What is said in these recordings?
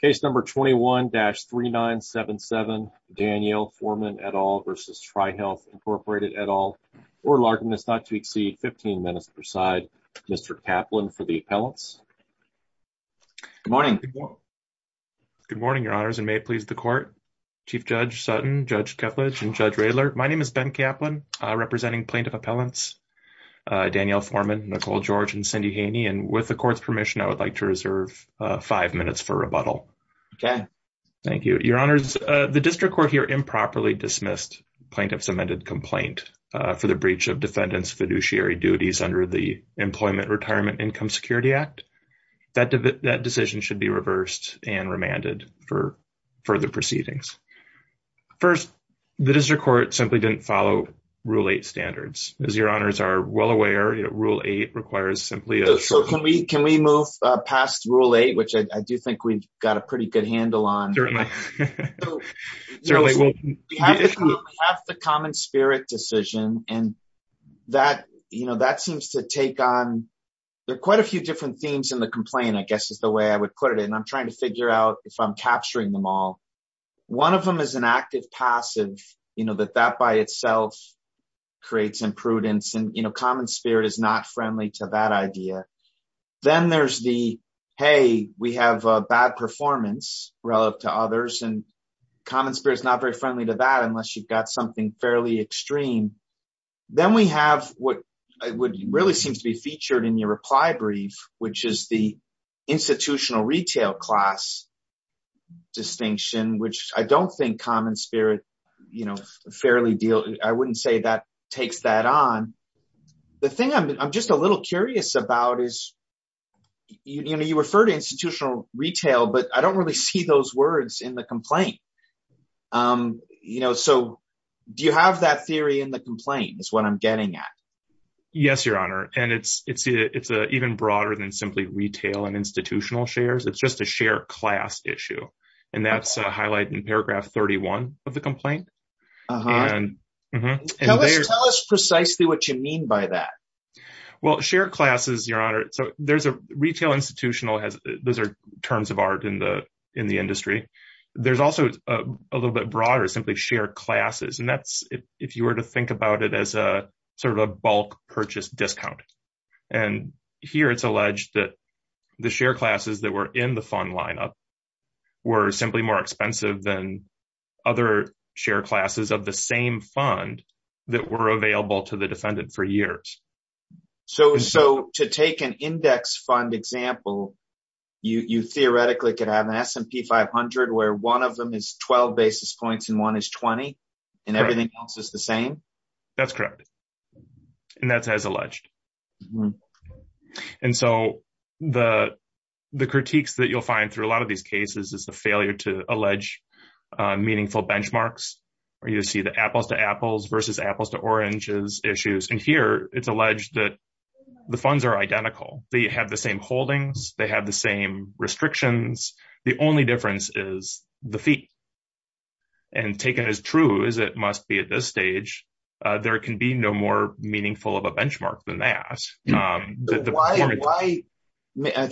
Case number 21-3977, Danielle Forman et al. versus Trihealth Incorporated et al. Oral argument is not to exceed 15 minutes per side. Mr. Kaplan for the appellants. Good morning. Good morning, your honors, and may it please the court. Chief Judge Sutton, Judge Kepledge, and Judge Raylert. My name is Ben Kaplan, representing plaintiff appellants, Danielle Forman, Nicole George, and Cindy Haney, and with the court's permission, I would like to reserve five minutes for rebuttal. Thank you. Your honors, the district court here improperly dismissed plaintiff's amended complaint for the breach of defendant's fiduciary duties under the Employment Retirement Income Security Act. That decision should be reversed and remanded for further proceedings. First, the district court simply didn't follow Rule 8 standards. As your honors are well aware, Rule 8 requires simply a... So can we move past Rule 8, which I do think we've got a pretty good handle on. Certainly. We have the common spirit decision, and that seems to take on... There are quite a few different themes in the complaint, I guess is the way I would put it, and I'm trying to figure out if I'm capturing them all. One of them is an active-passive, that that by itself creates imprudence, and common spirit is not friendly to that idea. Then there's the, hey, we have a bad performance relative to others, and common spirit is not very friendly to that, unless you've got something fairly extreme. Then we have what really seems to be featured in your reply brief, which is the institutional retail class distinction, which I don't think common takes that on. The thing I'm just a little curious about is you refer to institutional retail, but I don't really see those words in the complaint. Do you have that theory in the complaint is what I'm getting at. Yes, your honor. It's even broader than simply retail and institutional shares. It's just a share class issue. That's highlighted in paragraph 31 of the complaint. Tell us precisely what you mean by that. Share classes, your honor. There's a retail institutional, those are terms of art in the industry. There's also a little bit broader, simply share classes. That's if you were to think about it as a bulk purchase discount. Here it's alleged that the share classes that were in the fund lineup were simply more expensive than other share classes of the same fund that were available to the defendant for years. To take an index fund example, you theoretically could have an S&P 500 where one of them is 12 basis points and one is 20 and everything else is the same? That's correct. That's as alleged. The critiques that you'll find through a lot of these cases is the failure to allege meaningful benchmarks where you see the apples to apples versus apples to oranges issues. Here it's alleged that the funds are identical. They have the same holdings. They have the same restrictions. The only difference is the fee. Taken as true as it is.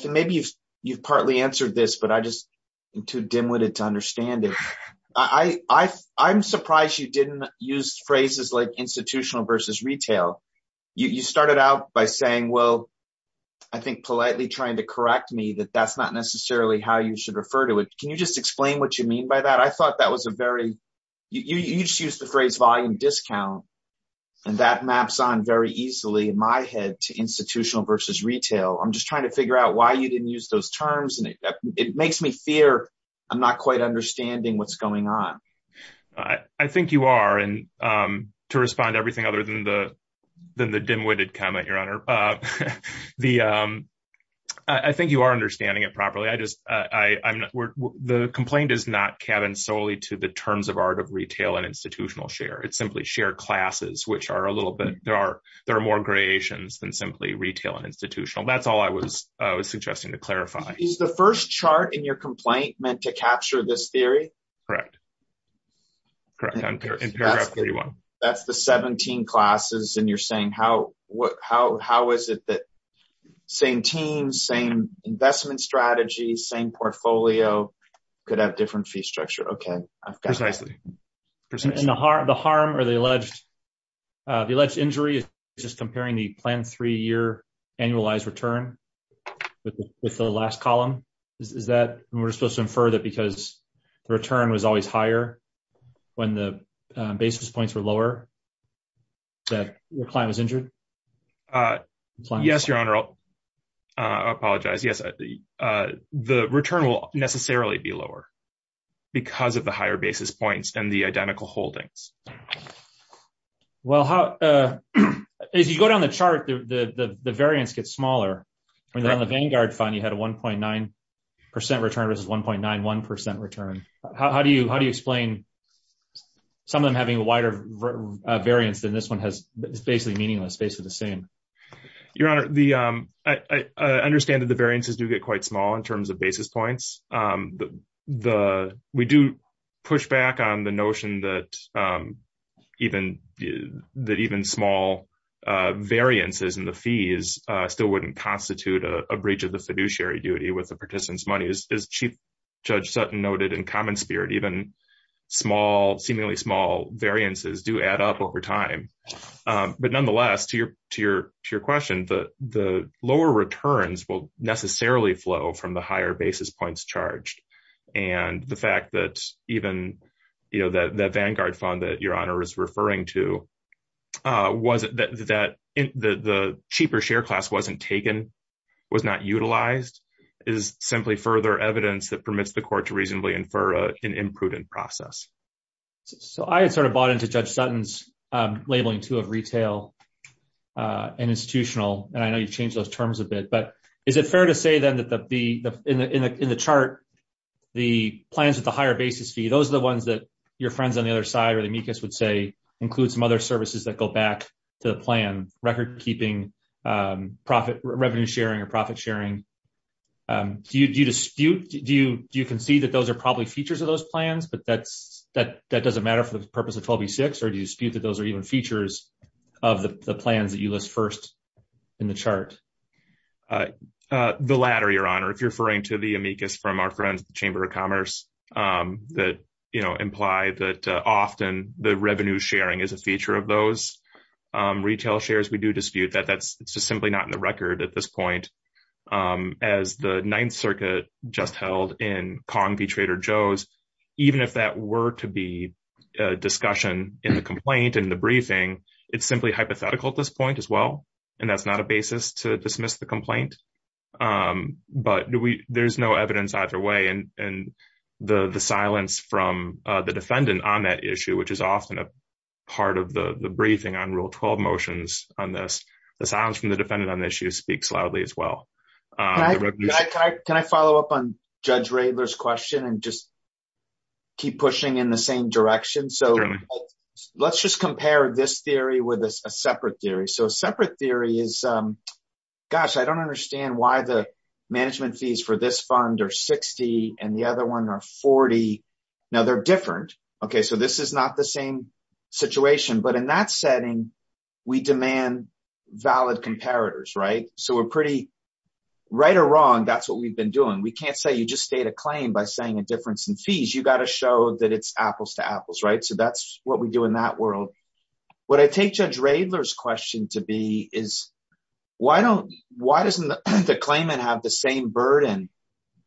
Maybe you've partly answered this, but I just am too dimwitted to understand it. I'm surprised you didn't use phrases like institutional versus retail. You started out by saying, well, I think politely trying to correct me that that's not necessarily how you should refer to it. Can you just explain what you mean by that? You just used the phrase volume discount. That maps on very easily in my head to institutional versus retail. I'm just trying to figure out why you didn't use those terms. It makes me fear I'm not quite understanding what's going on. I think you are. To respond to everything other than the dimwitted comment, your honor. I think you are understanding it properly. The complaint is not cabined solely to the terms of art of retail and institutional share. It's simply share classes, which are a little bit, there are more gradations than simply retail and institutional. That's all I was suggesting to clarify. Is the first chart in your complaint meant to capture this theory? Correct. Correct. That's the 17 classes and you're saying how is it that same team, same investment strategy, same portfolio could have different fee structure. Precisely. The harm or the alleged injury is just comparing the plan three year annualized return with the last column. Is that we're supposed to infer that because the return was always higher when the basis points were lower that your client was injured? Yes, your honor. I apologize. Yes, the return will necessarily be lower because of the higher basis points and the identical holdings. Well, as you go down the chart, the variance gets smaller. When you're on the Vanguard fund, you had a 1.9% return versus 1.91% return. How do you explain some of them having a wider variance than this one has? It's basically meaningless, basically the same. Your honor, I understand that the variances do get quite small in terms of basis points. We do push back on the notion that even small variances in the fees still wouldn't constitute a breach of the fiduciary duty with the participant's money. As Chief Judge Sutton noted in common spirit, even seemingly small variances do add up over time. Nonetheless, to your question, the lower returns will necessarily flow from the higher basis points charged. The fact that even that Vanguard fund that your honor is referring to, the cheaper share class wasn't taken, was not utilized, is simply further evidence that permits the court to reasonably infer an imprudent process. I had bought into Judge Sutton's labeling too of retail and institutional. I know you've changed those terms a bit, but is it fair to say then that in the chart, the plans with the higher basis fee, those are the ones that your friends on the other side or the MECAS would say include some other services that back to the plan, record keeping, revenue sharing or profit sharing. Do you dispute, do you concede that those are probably features of those plans, but that doesn't matter for the purpose of 12v6, or do you dispute that those are even features of the plans that you list first in the chart? The latter, your honor. If you're referring to the amicus from our friends at the Chamber of Commerce that imply that often the revenue sharing is a feature of those, retail shares, we do dispute that. That's just simply not in the record at this point. As the Ninth Circuit just held in Kong v. Trader Joe's, even if that were to be a discussion in the complaint, in the briefing, it's simply hypothetical at this point as well, and that's not a basis to dismiss the complaint. But there's no evidence either way, and the silence from the defendant on that issue, which is often a part of the briefing on Rule 12 motions on this, the silence from the defendant on the issue speaks loudly as well. Can I follow up on Judge Radler's question and just keep pushing in the same direction? So let's just compare this theory with a separate theory. So a separate theory is, gosh, I don't understand why the management fees for this fund are 60 and the other one are 40. Now, they're different. Okay, so this is not the same situation. But in that setting, we demand valid comparators, right? So we're pretty, right or wrong, that's what we've been doing. We can't say you just state a claim by saying a difference in fees. You got to show that it's apples to apples, right? So that's what we do in that world. What I take Judge Radler's question to be is, why doesn't the claimant have the same burden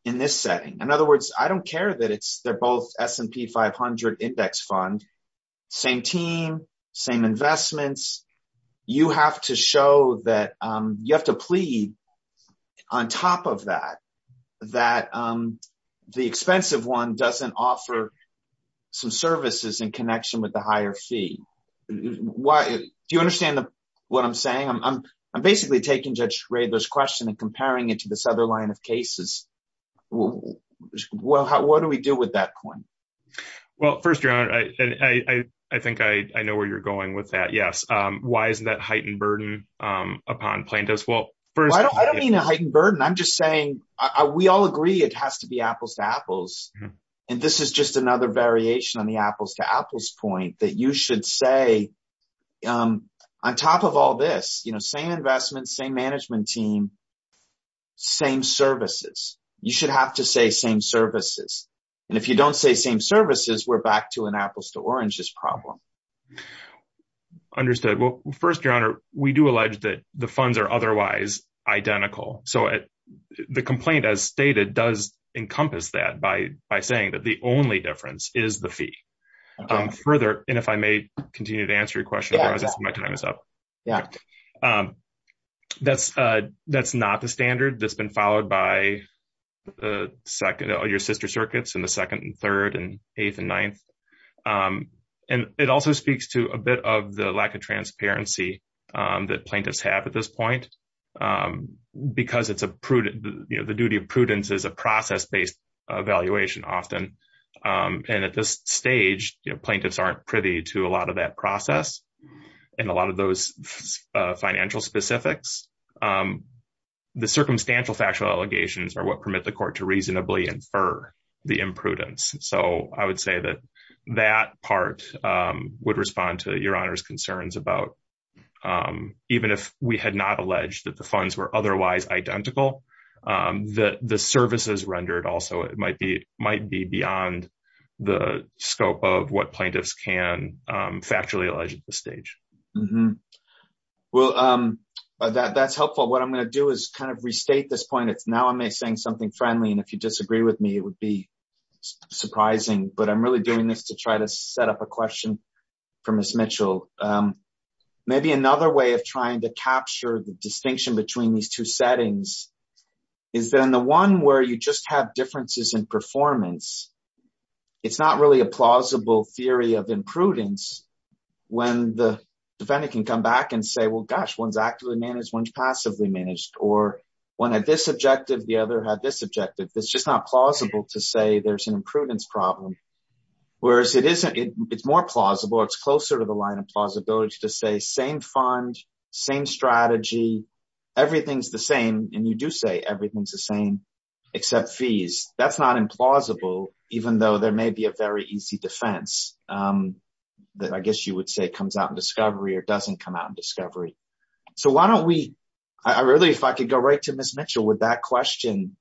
in this setting? In other words, I don't care that they're both S&P 500 index fund, same team, same investments. You have to show that you have to plead on top of that, that the expensive one doesn't offer some services in connection with the higher fee. Do you understand what I'm saying? I'm basically taking Judge Radler's question and comparing it to this other line of cases. Well, what do we do with that coin? Well, first, I think I know where you're going with that. Yes. Why isn't that heightened burden upon plaintiffs? Well, I don't mean a heightened burden. I'm just saying, we all agree it has to be apples to apples. And this is just another variation on the apples to apples point that you management team, same services. You should have to say same services. And if you don't say same services, we're back to an apples to oranges problem. Understood. Well, first, Your Honor, we do allege that the funds are otherwise identical. So the complaint, as stated, does encompass that by saying that the only difference is the fee. Further, and if I may continue to answer your question, my time is up. Yeah. That's, that's not the standard that's been followed by the second or your sister circuits in the second and third and eighth and ninth. And it also speaks to a bit of the lack of transparency that plaintiffs have at this point. Because it's a prudent, you know, the duty of prudence is a process based evaluation often. And at this stage, plaintiffs aren't privy to a lot of that process. And a lot of those financial specifics, the circumstantial factual allegations are what permit the court to reasonably infer the imprudence. So I would say that that part would respond to Your Honor's concerns about even if we had not alleged that the funds were might be beyond the scope of what plaintiffs can factually allege at this stage. Well, that's helpful. What I'm going to do is kind of restate this point. It's now I'm saying something friendly. And if you disagree with me, it would be surprising, but I'm really doing this to try to set up a question for Miss Mitchell. Maybe another way of trying to capture the differences in performance, it's not really a plausible theory of imprudence. When the defendant can come back and say, well, gosh, one's actively managed, one's passively managed, or one had this objective, the other had this objective, it's just not plausible to say there's an imprudence problem. Whereas it isn't, it's more plausible, it's closer to the line of plausibility to say same fund, same strategy, everything's the same. And you do say everything's the same, except fees. That's not implausible, even though there may be a very easy defense that I guess you would say comes out in discovery or doesn't come out in discovery. So why don't we, I really, if I could go right to Miss Mitchell with that question,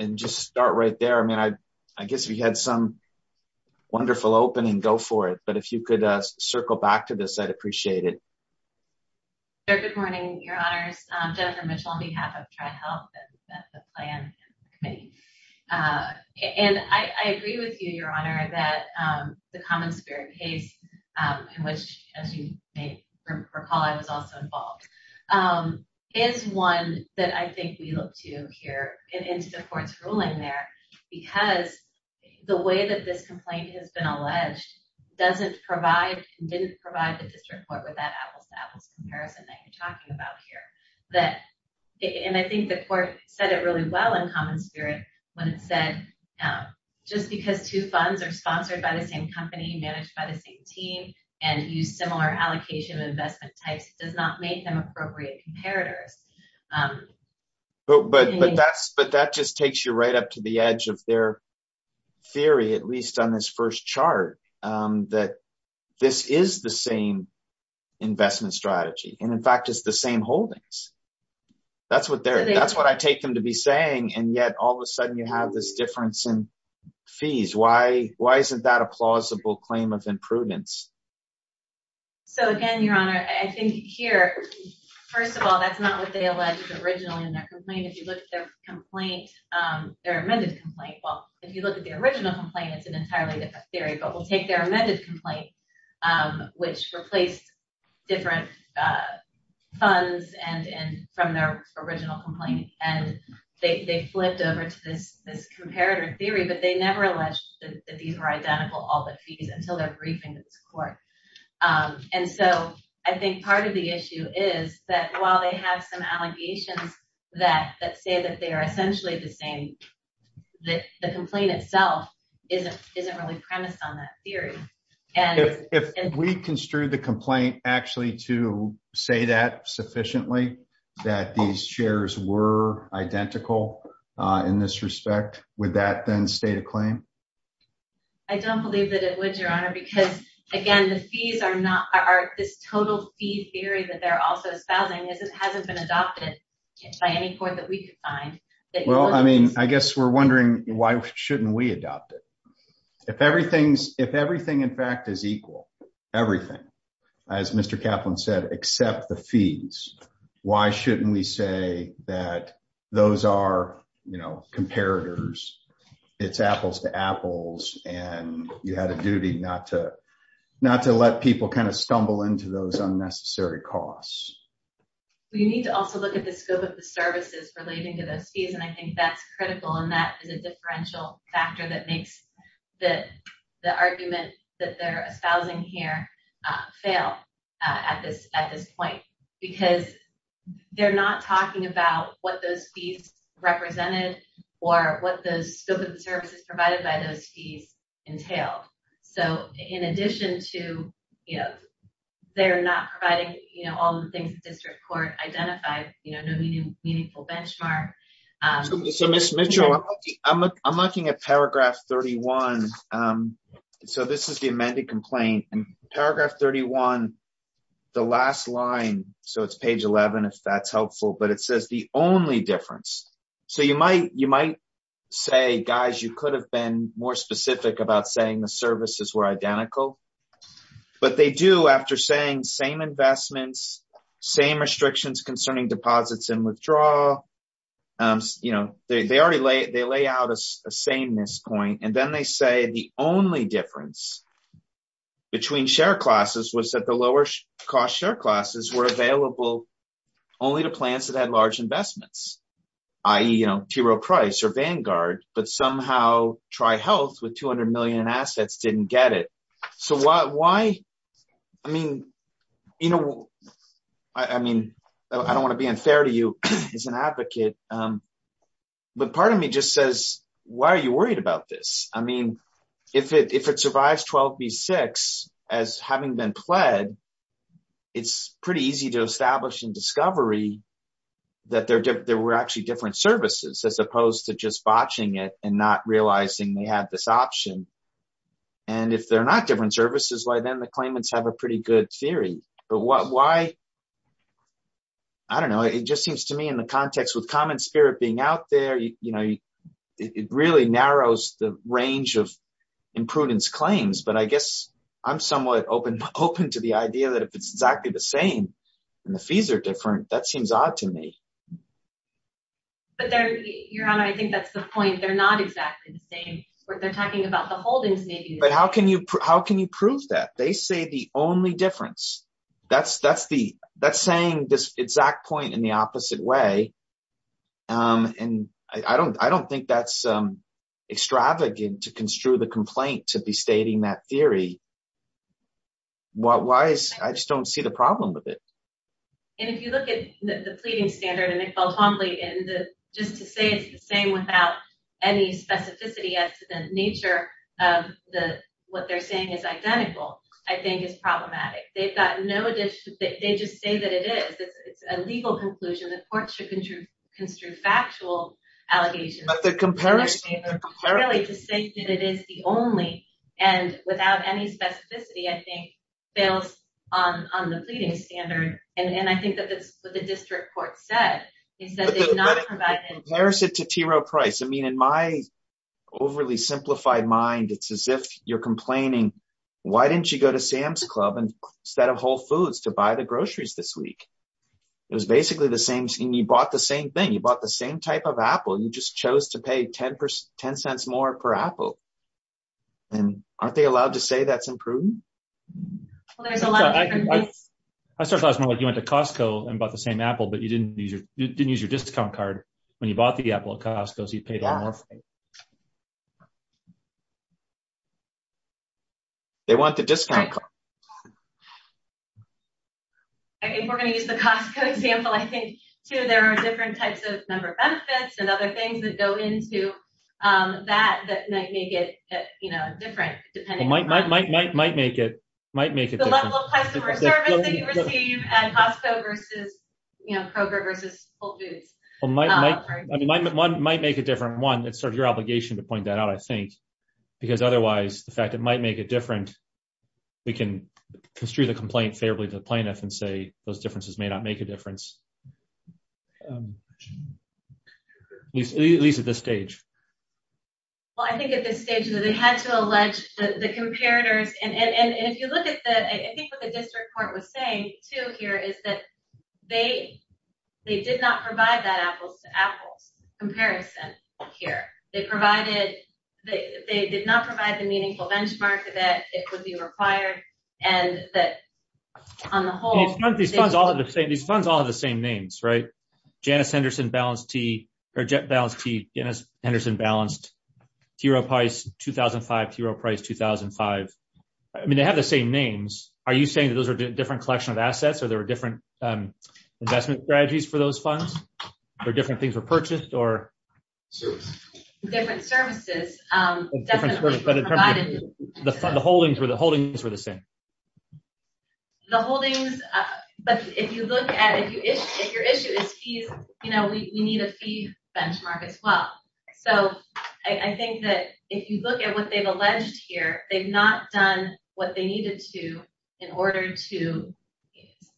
and just start right there. I mean, I guess we had some wonderful opening, go for it. But if you could circle back to this, I'd appreciate it. Sure, good morning, Your Honors. Jennifer Mitchell on behalf of Tri-Health and the plan committee. And I agree with you, Your Honor, that the common spirit case, in which, as you may recall, I was also involved, is one that I think we look to here in the court's ruling there, because the way that this complaint has been alleged doesn't provide, didn't provide the district court with that apples-to-apples comparison that you're talking about here. And I think the court said it really well in common spirit when it said, just because two funds are sponsored by the same company, managed by the same team, and use similar allocation investment types does not make them appropriate comparators. But that just takes you right up to the edge of their theory, at least on this first chart, that this is the same investment strategy, and in fact, it's the same holdings. That's what I take them to be saying, and yet all of a sudden you have this difference in fees. Why isn't that a plausible claim of imprudence? So again, Your Honor, I think here, first of all, that's not what they alleged originally in their complaint. If you look at their complaint, their amended complaint, well, if you look at the original complaint, it's an entirely different theory, but we'll take their amended complaint, which replaced different funds from their original complaint, and they flipped over to this comparator theory, but they never alleged that these were identical, all the fees, until their briefing to this court. And so I think part of the issue is that while they have some allegations that say that they are essentially the same, the complaint itself isn't really premised on that theory. If we construe the complaint actually to say that sufficiently, that these shares were identical in this respect, would that then state a claim? I don't believe that it would, Your Honor, because again, this total fee theory that hasn't been adopted by any court that we could find- Well, I mean, I guess we're wondering why shouldn't we adopt it? If everything, in fact, is equal, everything, as Mr. Kaplan said, except the fees, why shouldn't we say that those are comparators, it's apples to apples, and you had a duty not to let people kind of stumble into those unnecessary costs? We need to also look at the scope of the services relating to those fees, and I think that's critical, and that is a differential factor that makes the argument that they're espousing here fail at this point, because they're not talking about what those fees represented or what the scope of the services provided by those fees entailed. So in addition to they're not providing all the things the district court identified, no meaningful benchmark- So Ms. Mitchell, I'm looking at paragraph 31, so this is the amended complaint, and paragraph 31, the last line, so it's page 11, if that's helpful, but it says the only difference. So you might say, guys, you could have been more specific about saying the services were identical, but they do, after saying same investments, same restrictions concerning deposits and withdrawal, you know, they already lay out a sameness point, and then they say the only difference between share classes was that the lower cost share classes were available only to plans that had large investments, i.e., you know, T. Rowe Price or Vanguard, but somehow Tri-Health, with 200 million in assets, didn't get it. So why, I mean, you know, I mean, I don't want to be unfair to you as an advocate, but part of me just says, why are you worried about this? I mean, if it survives 12 v. 6, as having been pled, it's pretty easy to establish in discovery that there were actually different services, as opposed to just botching it and not realizing they had this option, and if they're not different services, why then the claimants have a pretty good theory, but why, I don't know, it just seems to me in the context with common spirit being out there, you know, it really narrows the range of imprudence claims, but I guess I'm somewhat open to the idea that if it's exactly the same and the fees are different, that seems odd to me. But there, Your Honor, I think that's the point. They're not exactly the same. They're talking about the holdings. But how can you prove that? They say the only difference. That's saying this exact point in the opposite way, and I don't think that's extravagant to construe the complaint to be stating that theory. Why is, I just don't see the problem with it. And if you look at the pleading standard and it felt humbly in the, just to say it's the same without any specificity as to the nature of the, what they're saying is identical, I think is problematic. They've got no addition, they just say that it is. It's a legal conclusion that courts should construe factual allegations. But the comparison, they're really just saying that it is the only, and without any specificity, I think fails on the pleading standard. And I think that's what the district court said. They said they did not provide any comparison to TRO price. I mean, in my overly simplified mind, it's as if you're complaining, why didn't you go to Sam's Club instead of Whole Foods to buy the groceries this week? It was basically the same thing. You bought the same type of apple. You just chose to pay 10 cents more per apple. And aren't they allowed to say that's improved? Well, there's a lot. I started last month, you went to Costco and bought the same apple, but you didn't use your discount card when you bought the apple at Costco. They want the discount card. If we're going to use the Costco example, I think too, there are different types of number of benefits and other things that go into that, that might make it different depending- Well, might make it different. The level of customer service that you receive at Costco versus Kroger versus Whole Foods. Well, might make it different. One, it's sort of your obligation to point that out, I think, because otherwise the fact it might make it different, we can construe the complaint favorably to the plaintiff and say those differences may not make a difference. At least at this stage. Well, I think at this stage that they had to allege the comparators. And if you look at the, I think what the district court was saying too here is that they did not provide that apples comparison here. They provided, they did not provide the meaningful benchmark that it would be required. And that on the whole- These funds all have the same names, right? Janice Henderson Balanced T, or Jet Balanced T, Janice Henderson Balanced, Hero Price 2005, Hero Price 2005. I mean, they have the same names. Are you saying that those are different collection of assets or there were different investment strategies for those funds or different things were purchased or- Different services. The holdings were the same. The holdings, but if you look at it, if your issue is fees, we need a fee benchmark as well. So I think that if you look at what they've alleged here, they've not done what they needed to in order to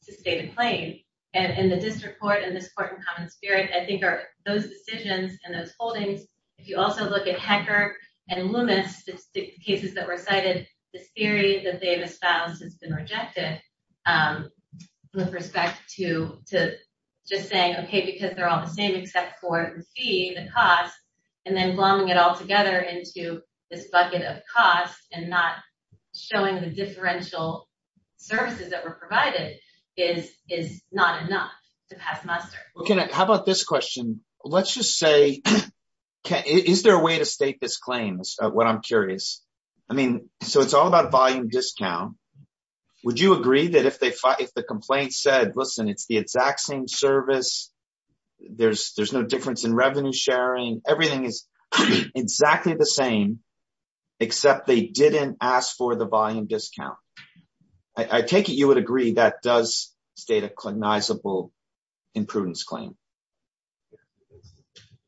stay the claim. And the district court and this court in common spirit, I think are those decisions and those holdings. If you also look at Hecker and Loomis, the cases that were cited, this theory that they've espoused has been rejected with respect to just saying, okay, because they're all the same except for the fee, the cost, and then plumbing it all together into this bucket of costs and not showing the differential services that were provided is not enough to pass muster. How about this question? Let's just say, is there a way to state this claim? That's what I'm curious. I mean, so it's all about volume discount. Would you agree that if the complaint said, listen, it's the exact same service, there's no difference in revenue sharing. Everything is exactly the same, except they didn't ask for the volume discount. I take it you would agree that does state a cognizable imprudence claim.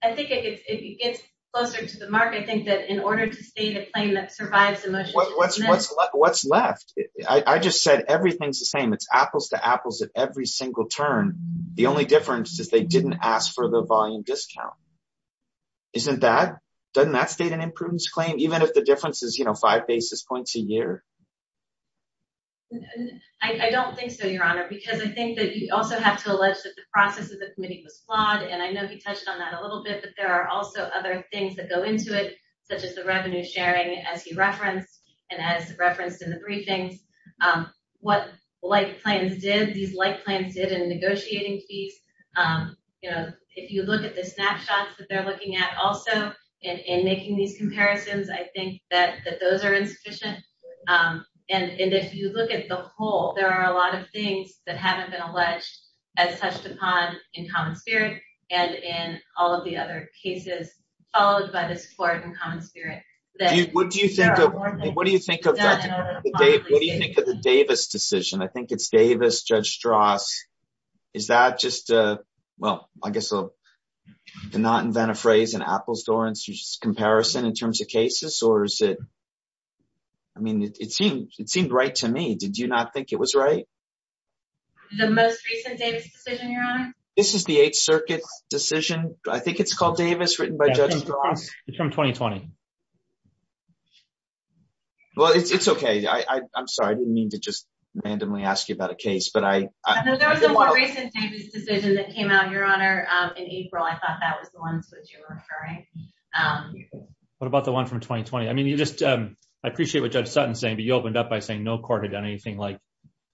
I think it gets closer to the market. I think that in order to stay the claim that survives the motion. What's left? I just said, everything's the same. It's apples to apples at every turn. The only difference is they didn't ask for the volume discount. Isn't that state an imprudence claim, even if the difference is five basis points a year? I don't think so, your honor, because I think that you also have to allege that the process of the committee was flawed. I know he touched on that a little bit, but there are also other things that go into it, such as the revenue sharing as he referenced and as referenced in briefings. What like plans did, these like plans did in negotiating fees. If you look at the snapshots that they're looking at also in making these comparisons, I think that those are insufficient. If you look at the whole, there are a lot of things that haven't been alleged as touched upon in common spirit and in all of the other cases followed by this court in common What do you think of the Davis decision? I think it's Davis, Judge Strauss. Is that just a, well, I guess I'll not invent a phrase in apples to oranges comparison in terms of cases or is it, I mean, it seemed, it seemed right to me. Did you not think it was right? The most recent Davis decision, your honor? This is the eighth circuit decision. I think it's called Davis written by Judge Strauss. It's from 2020. Well, it's, it's okay. I, I'm sorry. I didn't mean to just randomly ask you about a case, but I, I think there was a more recent Davis decision that came out, your honor, in April. I thought that was the ones that you were referring. What about the one from 2020? I mean, you just, I appreciate what judge Sutton saying, but you opened up by saying no court had done anything like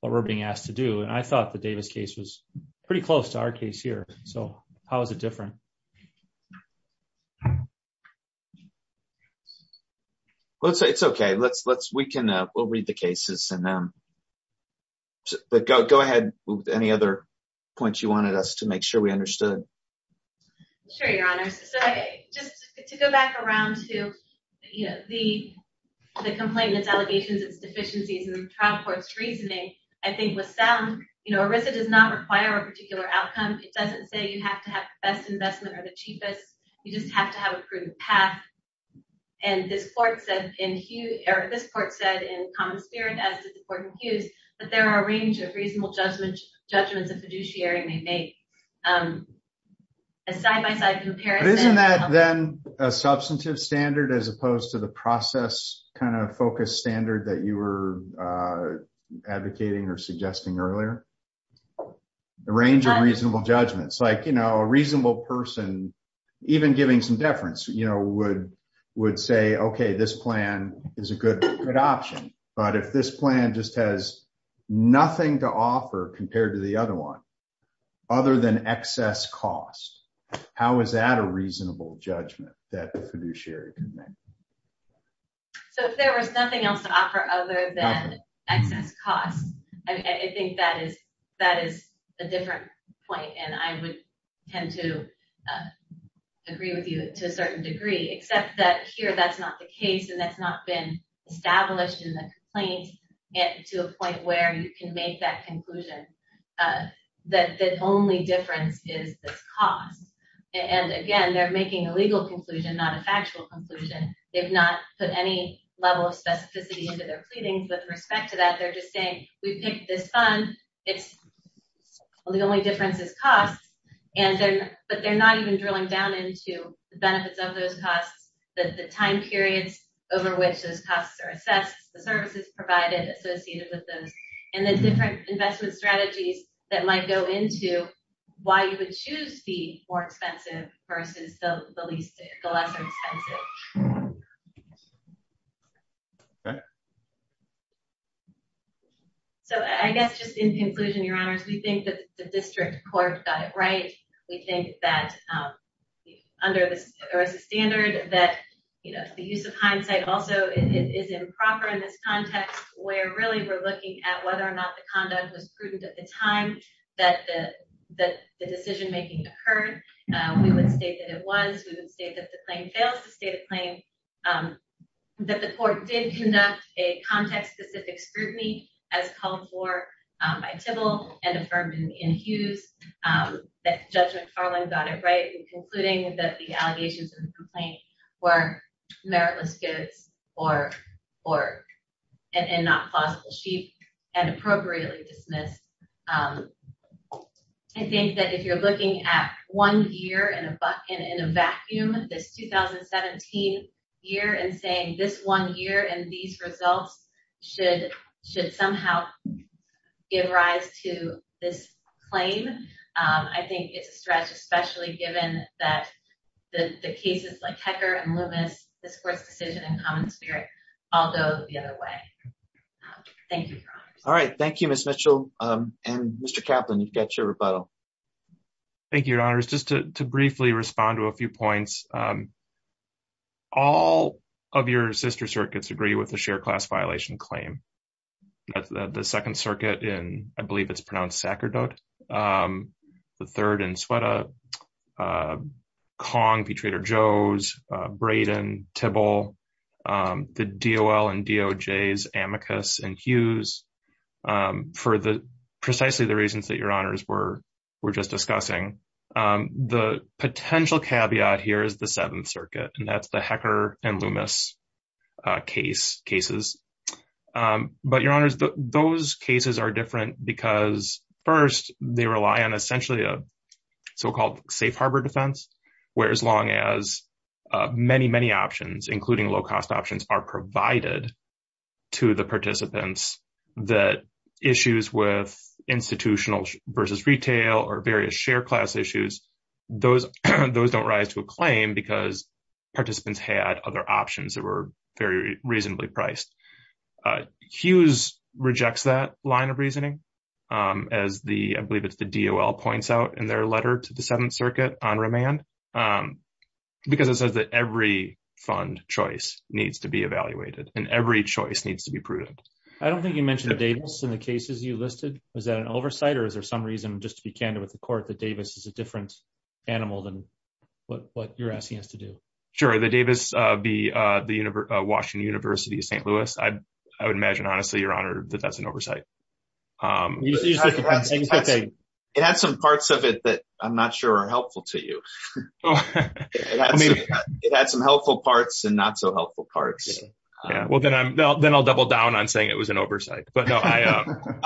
what we're being asked to do. And I thought the Davis case was pretty close to our case here. So how is it different? Okay. Let's say it's okay. Let's let's, we can, uh, we'll read the cases and them, but go, go ahead with any other points you wanted us to make sure we understood. Sure. Your honor. So just to go back around to, you know, the, the complainant's allegations, it's deficiencies in the trial court's reasoning. I think with sound, you know, it does not require a particular outcome. It doesn't say you have to have the best investment or the cheapest. You just have to have a proven path. And this court said in this court said in common spirit, as did the court in Hughes, but there are a range of reasonable judgment judgments of fiduciary may make, um, a side-by-side comparison. Isn't that then a substantive standard as opposed to the process kind of focus standard that you were, uh, advocating or suggesting earlier? The range of reasonable judgments, like, you know, a reasonable person, even giving some deference, you know, would, would say, okay, this plan is a good option. But if this plan just has nothing to offer compared to the other one, other than excess costs, how is that a reasonable judgment that the fiduciary can make? Okay. So if there was nothing else to offer other than excess costs, I think that is, that is a different point. And I would tend to, uh, agree with you to a certain degree, except that here, that's not the case. And that's not been established in the complaint to a point where you can make that conclusion, uh, that the only difference is the cost. And again, they're making a legal conclusion, not a factual conclusion. They've not put any level of specificity into their pleadings with respect to that. They're just saying we picked this fund. It's the only difference is cost. And then, but they're not even drilling down into the benefits of those costs, that the time periods over which those costs are assessed, the services provided associated with those and the different investment strategies that might go into why you would choose the more expensive versus the least, the less expensive. So I guess just in conclusion, your honors, we think that the district court got it right. We think that, um, under the standard that, you know, the use of hindsight also is improper in this context where really we're looking at whether or not the conduct was prudent at the time that the decision-making occurred. We would state that it was, we would state that the claim fails to state a claim, um, that the court did conduct a context-specific scrutiny as called for by Tibble and affirmed in Hughes, um, that Judge McFarland got it right in concluding that the allegations in the complaint were meritless goods or, or, and not plausible sheep and appropriately dismissed. Um, I think that if you're looking at one year in a buck and in a vacuum, this 2017 year and saying this one year and these results should, should somehow give rise to this claim. Um, I think it's a stretch, especially given that the cases like Hecker and Loomis, this court's decision in common spirit, although the other way. Thank you. All right. Thank you, Ms. Mitchell. Um, and Mr. Kaplan, you've got your rebuttal. Thank you, your honors. Just to briefly respond to a few points. Um, all of your sister circuits agree with the share class violation claim. The second circuit in, I believe it's pronounced Sacerdote. Um, the third and sweat, uh, uh, Kong, Betrayed or Joe's, uh, Brayden, Tibble, um, the DOL and DOJ's amicus and Hughes, um, for the precisely the reasons that your honors were, were just discussing. Um, the potential caveat here is the seventh circuit and that's the Hecker and Loomis, uh, case cases. Um, but your honors, those cases are different because first they rely on essentially a so-called safe Harbor defense, whereas long as, uh, many, many options, including low cost options are provided to the participants that issues with institutional versus retail or various share class issues. Those, those don't rise to a claim because participants had other options that were very reasonably priced. Uh, Hughes rejects that line of reasoning, um, as the, I believe it's the DOL points out in their letter to the seventh circuit on remand. Um, because it says that every fund choice needs to be evaluated and every choice needs to be prudent. I don't think you mentioned Davis in the cases you listed. Was that an oversight or is there some reason just to be candid with the court that Davis is a different animal than what you're asking us to do? Sure. The Davis, uh, the, uh, the univer, uh, Washington university of St. Louis, I, I would imagine, honestly, your honor, that that's an oversight. Um, it had some parts of it that I'm not sure are helpful to you. It had some helpful parts and not so helpful parts. Yeah. Well then I'm, then I'll double down on saying it was an oversight, but no, I, um,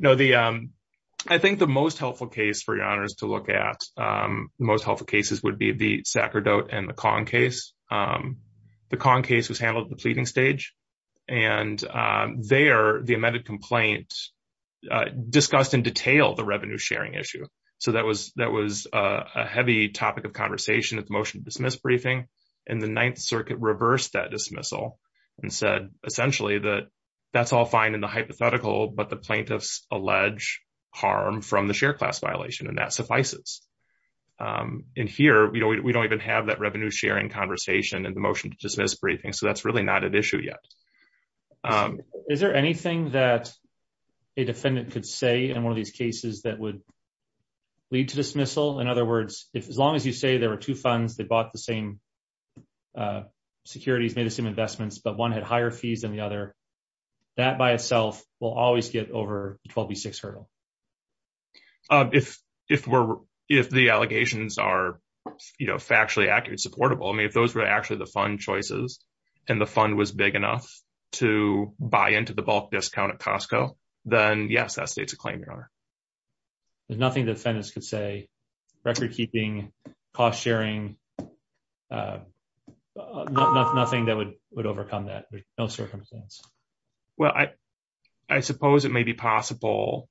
no, the, um, I think the most helpful case for your honors to look at, um, the most helpful cases would be the Sacredote and the con case. Um, the con case was handled at the pleading stage and, um, they are the amended complaint, uh, discussed in detail the revenue sharing issue. So that was, that was, uh, a heavy topic of conversation at the motion to dismiss briefing and the ninth circuit reversed that dismissal and said essentially that that's all fine in the hypothetical, but the plaintiffs allege harm from the share class violation. And that suffices. Um, in here, you know, we don't even have that revenue sharing conversation and the motion to dismiss briefing. So that's really not an issue yet. Um, is there anything that a defendant could say in one of these cases that would lead to dismissal? In other words, if, as long as you say there were two funds, they bought the same, uh, securities made the same investments, but one had higher fees than the other, that by itself will always get over the 12B6 hurdle. Um, if, if we're, if the allegations are factually accurate, supportable, I mean, if those were actually the fund choices and the fund was big enough to buy into the bulk discount at Costco, then yes, that states a claim your honor. There's nothing that the defendants could say, record keeping, cost sharing, uh, nothing that would, would overcome that. No circumstance. Well, I, I suppose it may be possible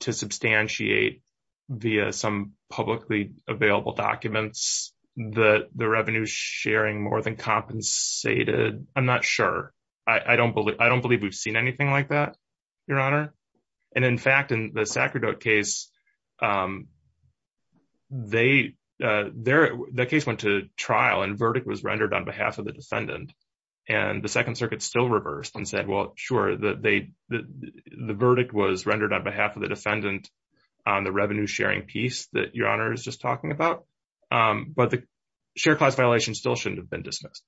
to substantiate via some publicly available documents that the revenue sharing more than compensated. I'm not sure. I don't believe, I don't believe we've seen anything like that, your honor. And in fact, in the Sacredote case, um, they, uh, their, their case went to trial and verdict was rendered on behalf of the defendant and the second circuit still reversed and said, well, sure that they, the, the, the verdict was rendered on behalf of the defendant on the revenue sharing piece that your honor is just talking about. Um, but the share class violation still shouldn't have been dismissed,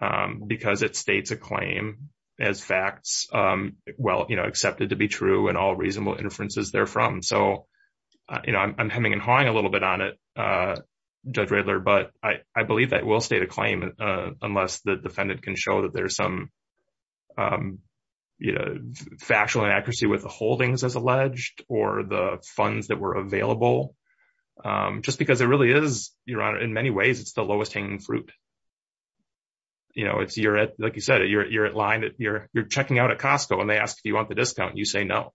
um, because it states a claim as facts, um, well, you know, accepted to be true and all reasonable inferences therefrom. So, uh, you know, I'm, I'm hemming and hawing a little bit on it, uh, judge Riddler, but I, I believe that will state a claim, uh, unless the defendant can show that there's some, um, you know, factual inaccuracy with the holdings as alleged or the funds that were available. Um, just because it really is, your honor, in many ways, it's the lowest hanging fruit. You know, it's, you're at, like you said, you're, you're at line that you're, you're checking out at Costco and they ask if you want the discount and you say no.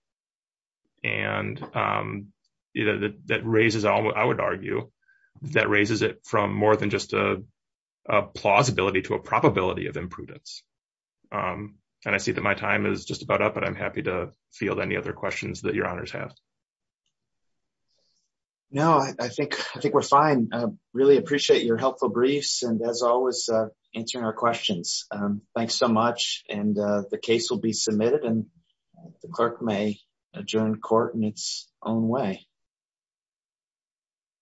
And, um, you know, that, that that raises it from more than just a plausibility to a probability of imprudence. Um, and I see that my time is just about up, but I'm happy to field any other questions that your honors have. No, I think, I think we're fine. I really appreciate your helpful briefs and as always, uh, answering our questions. Um, thanks so much. And, uh, the case will be submitted and the clerk may adjourn court in its own way. Thank you.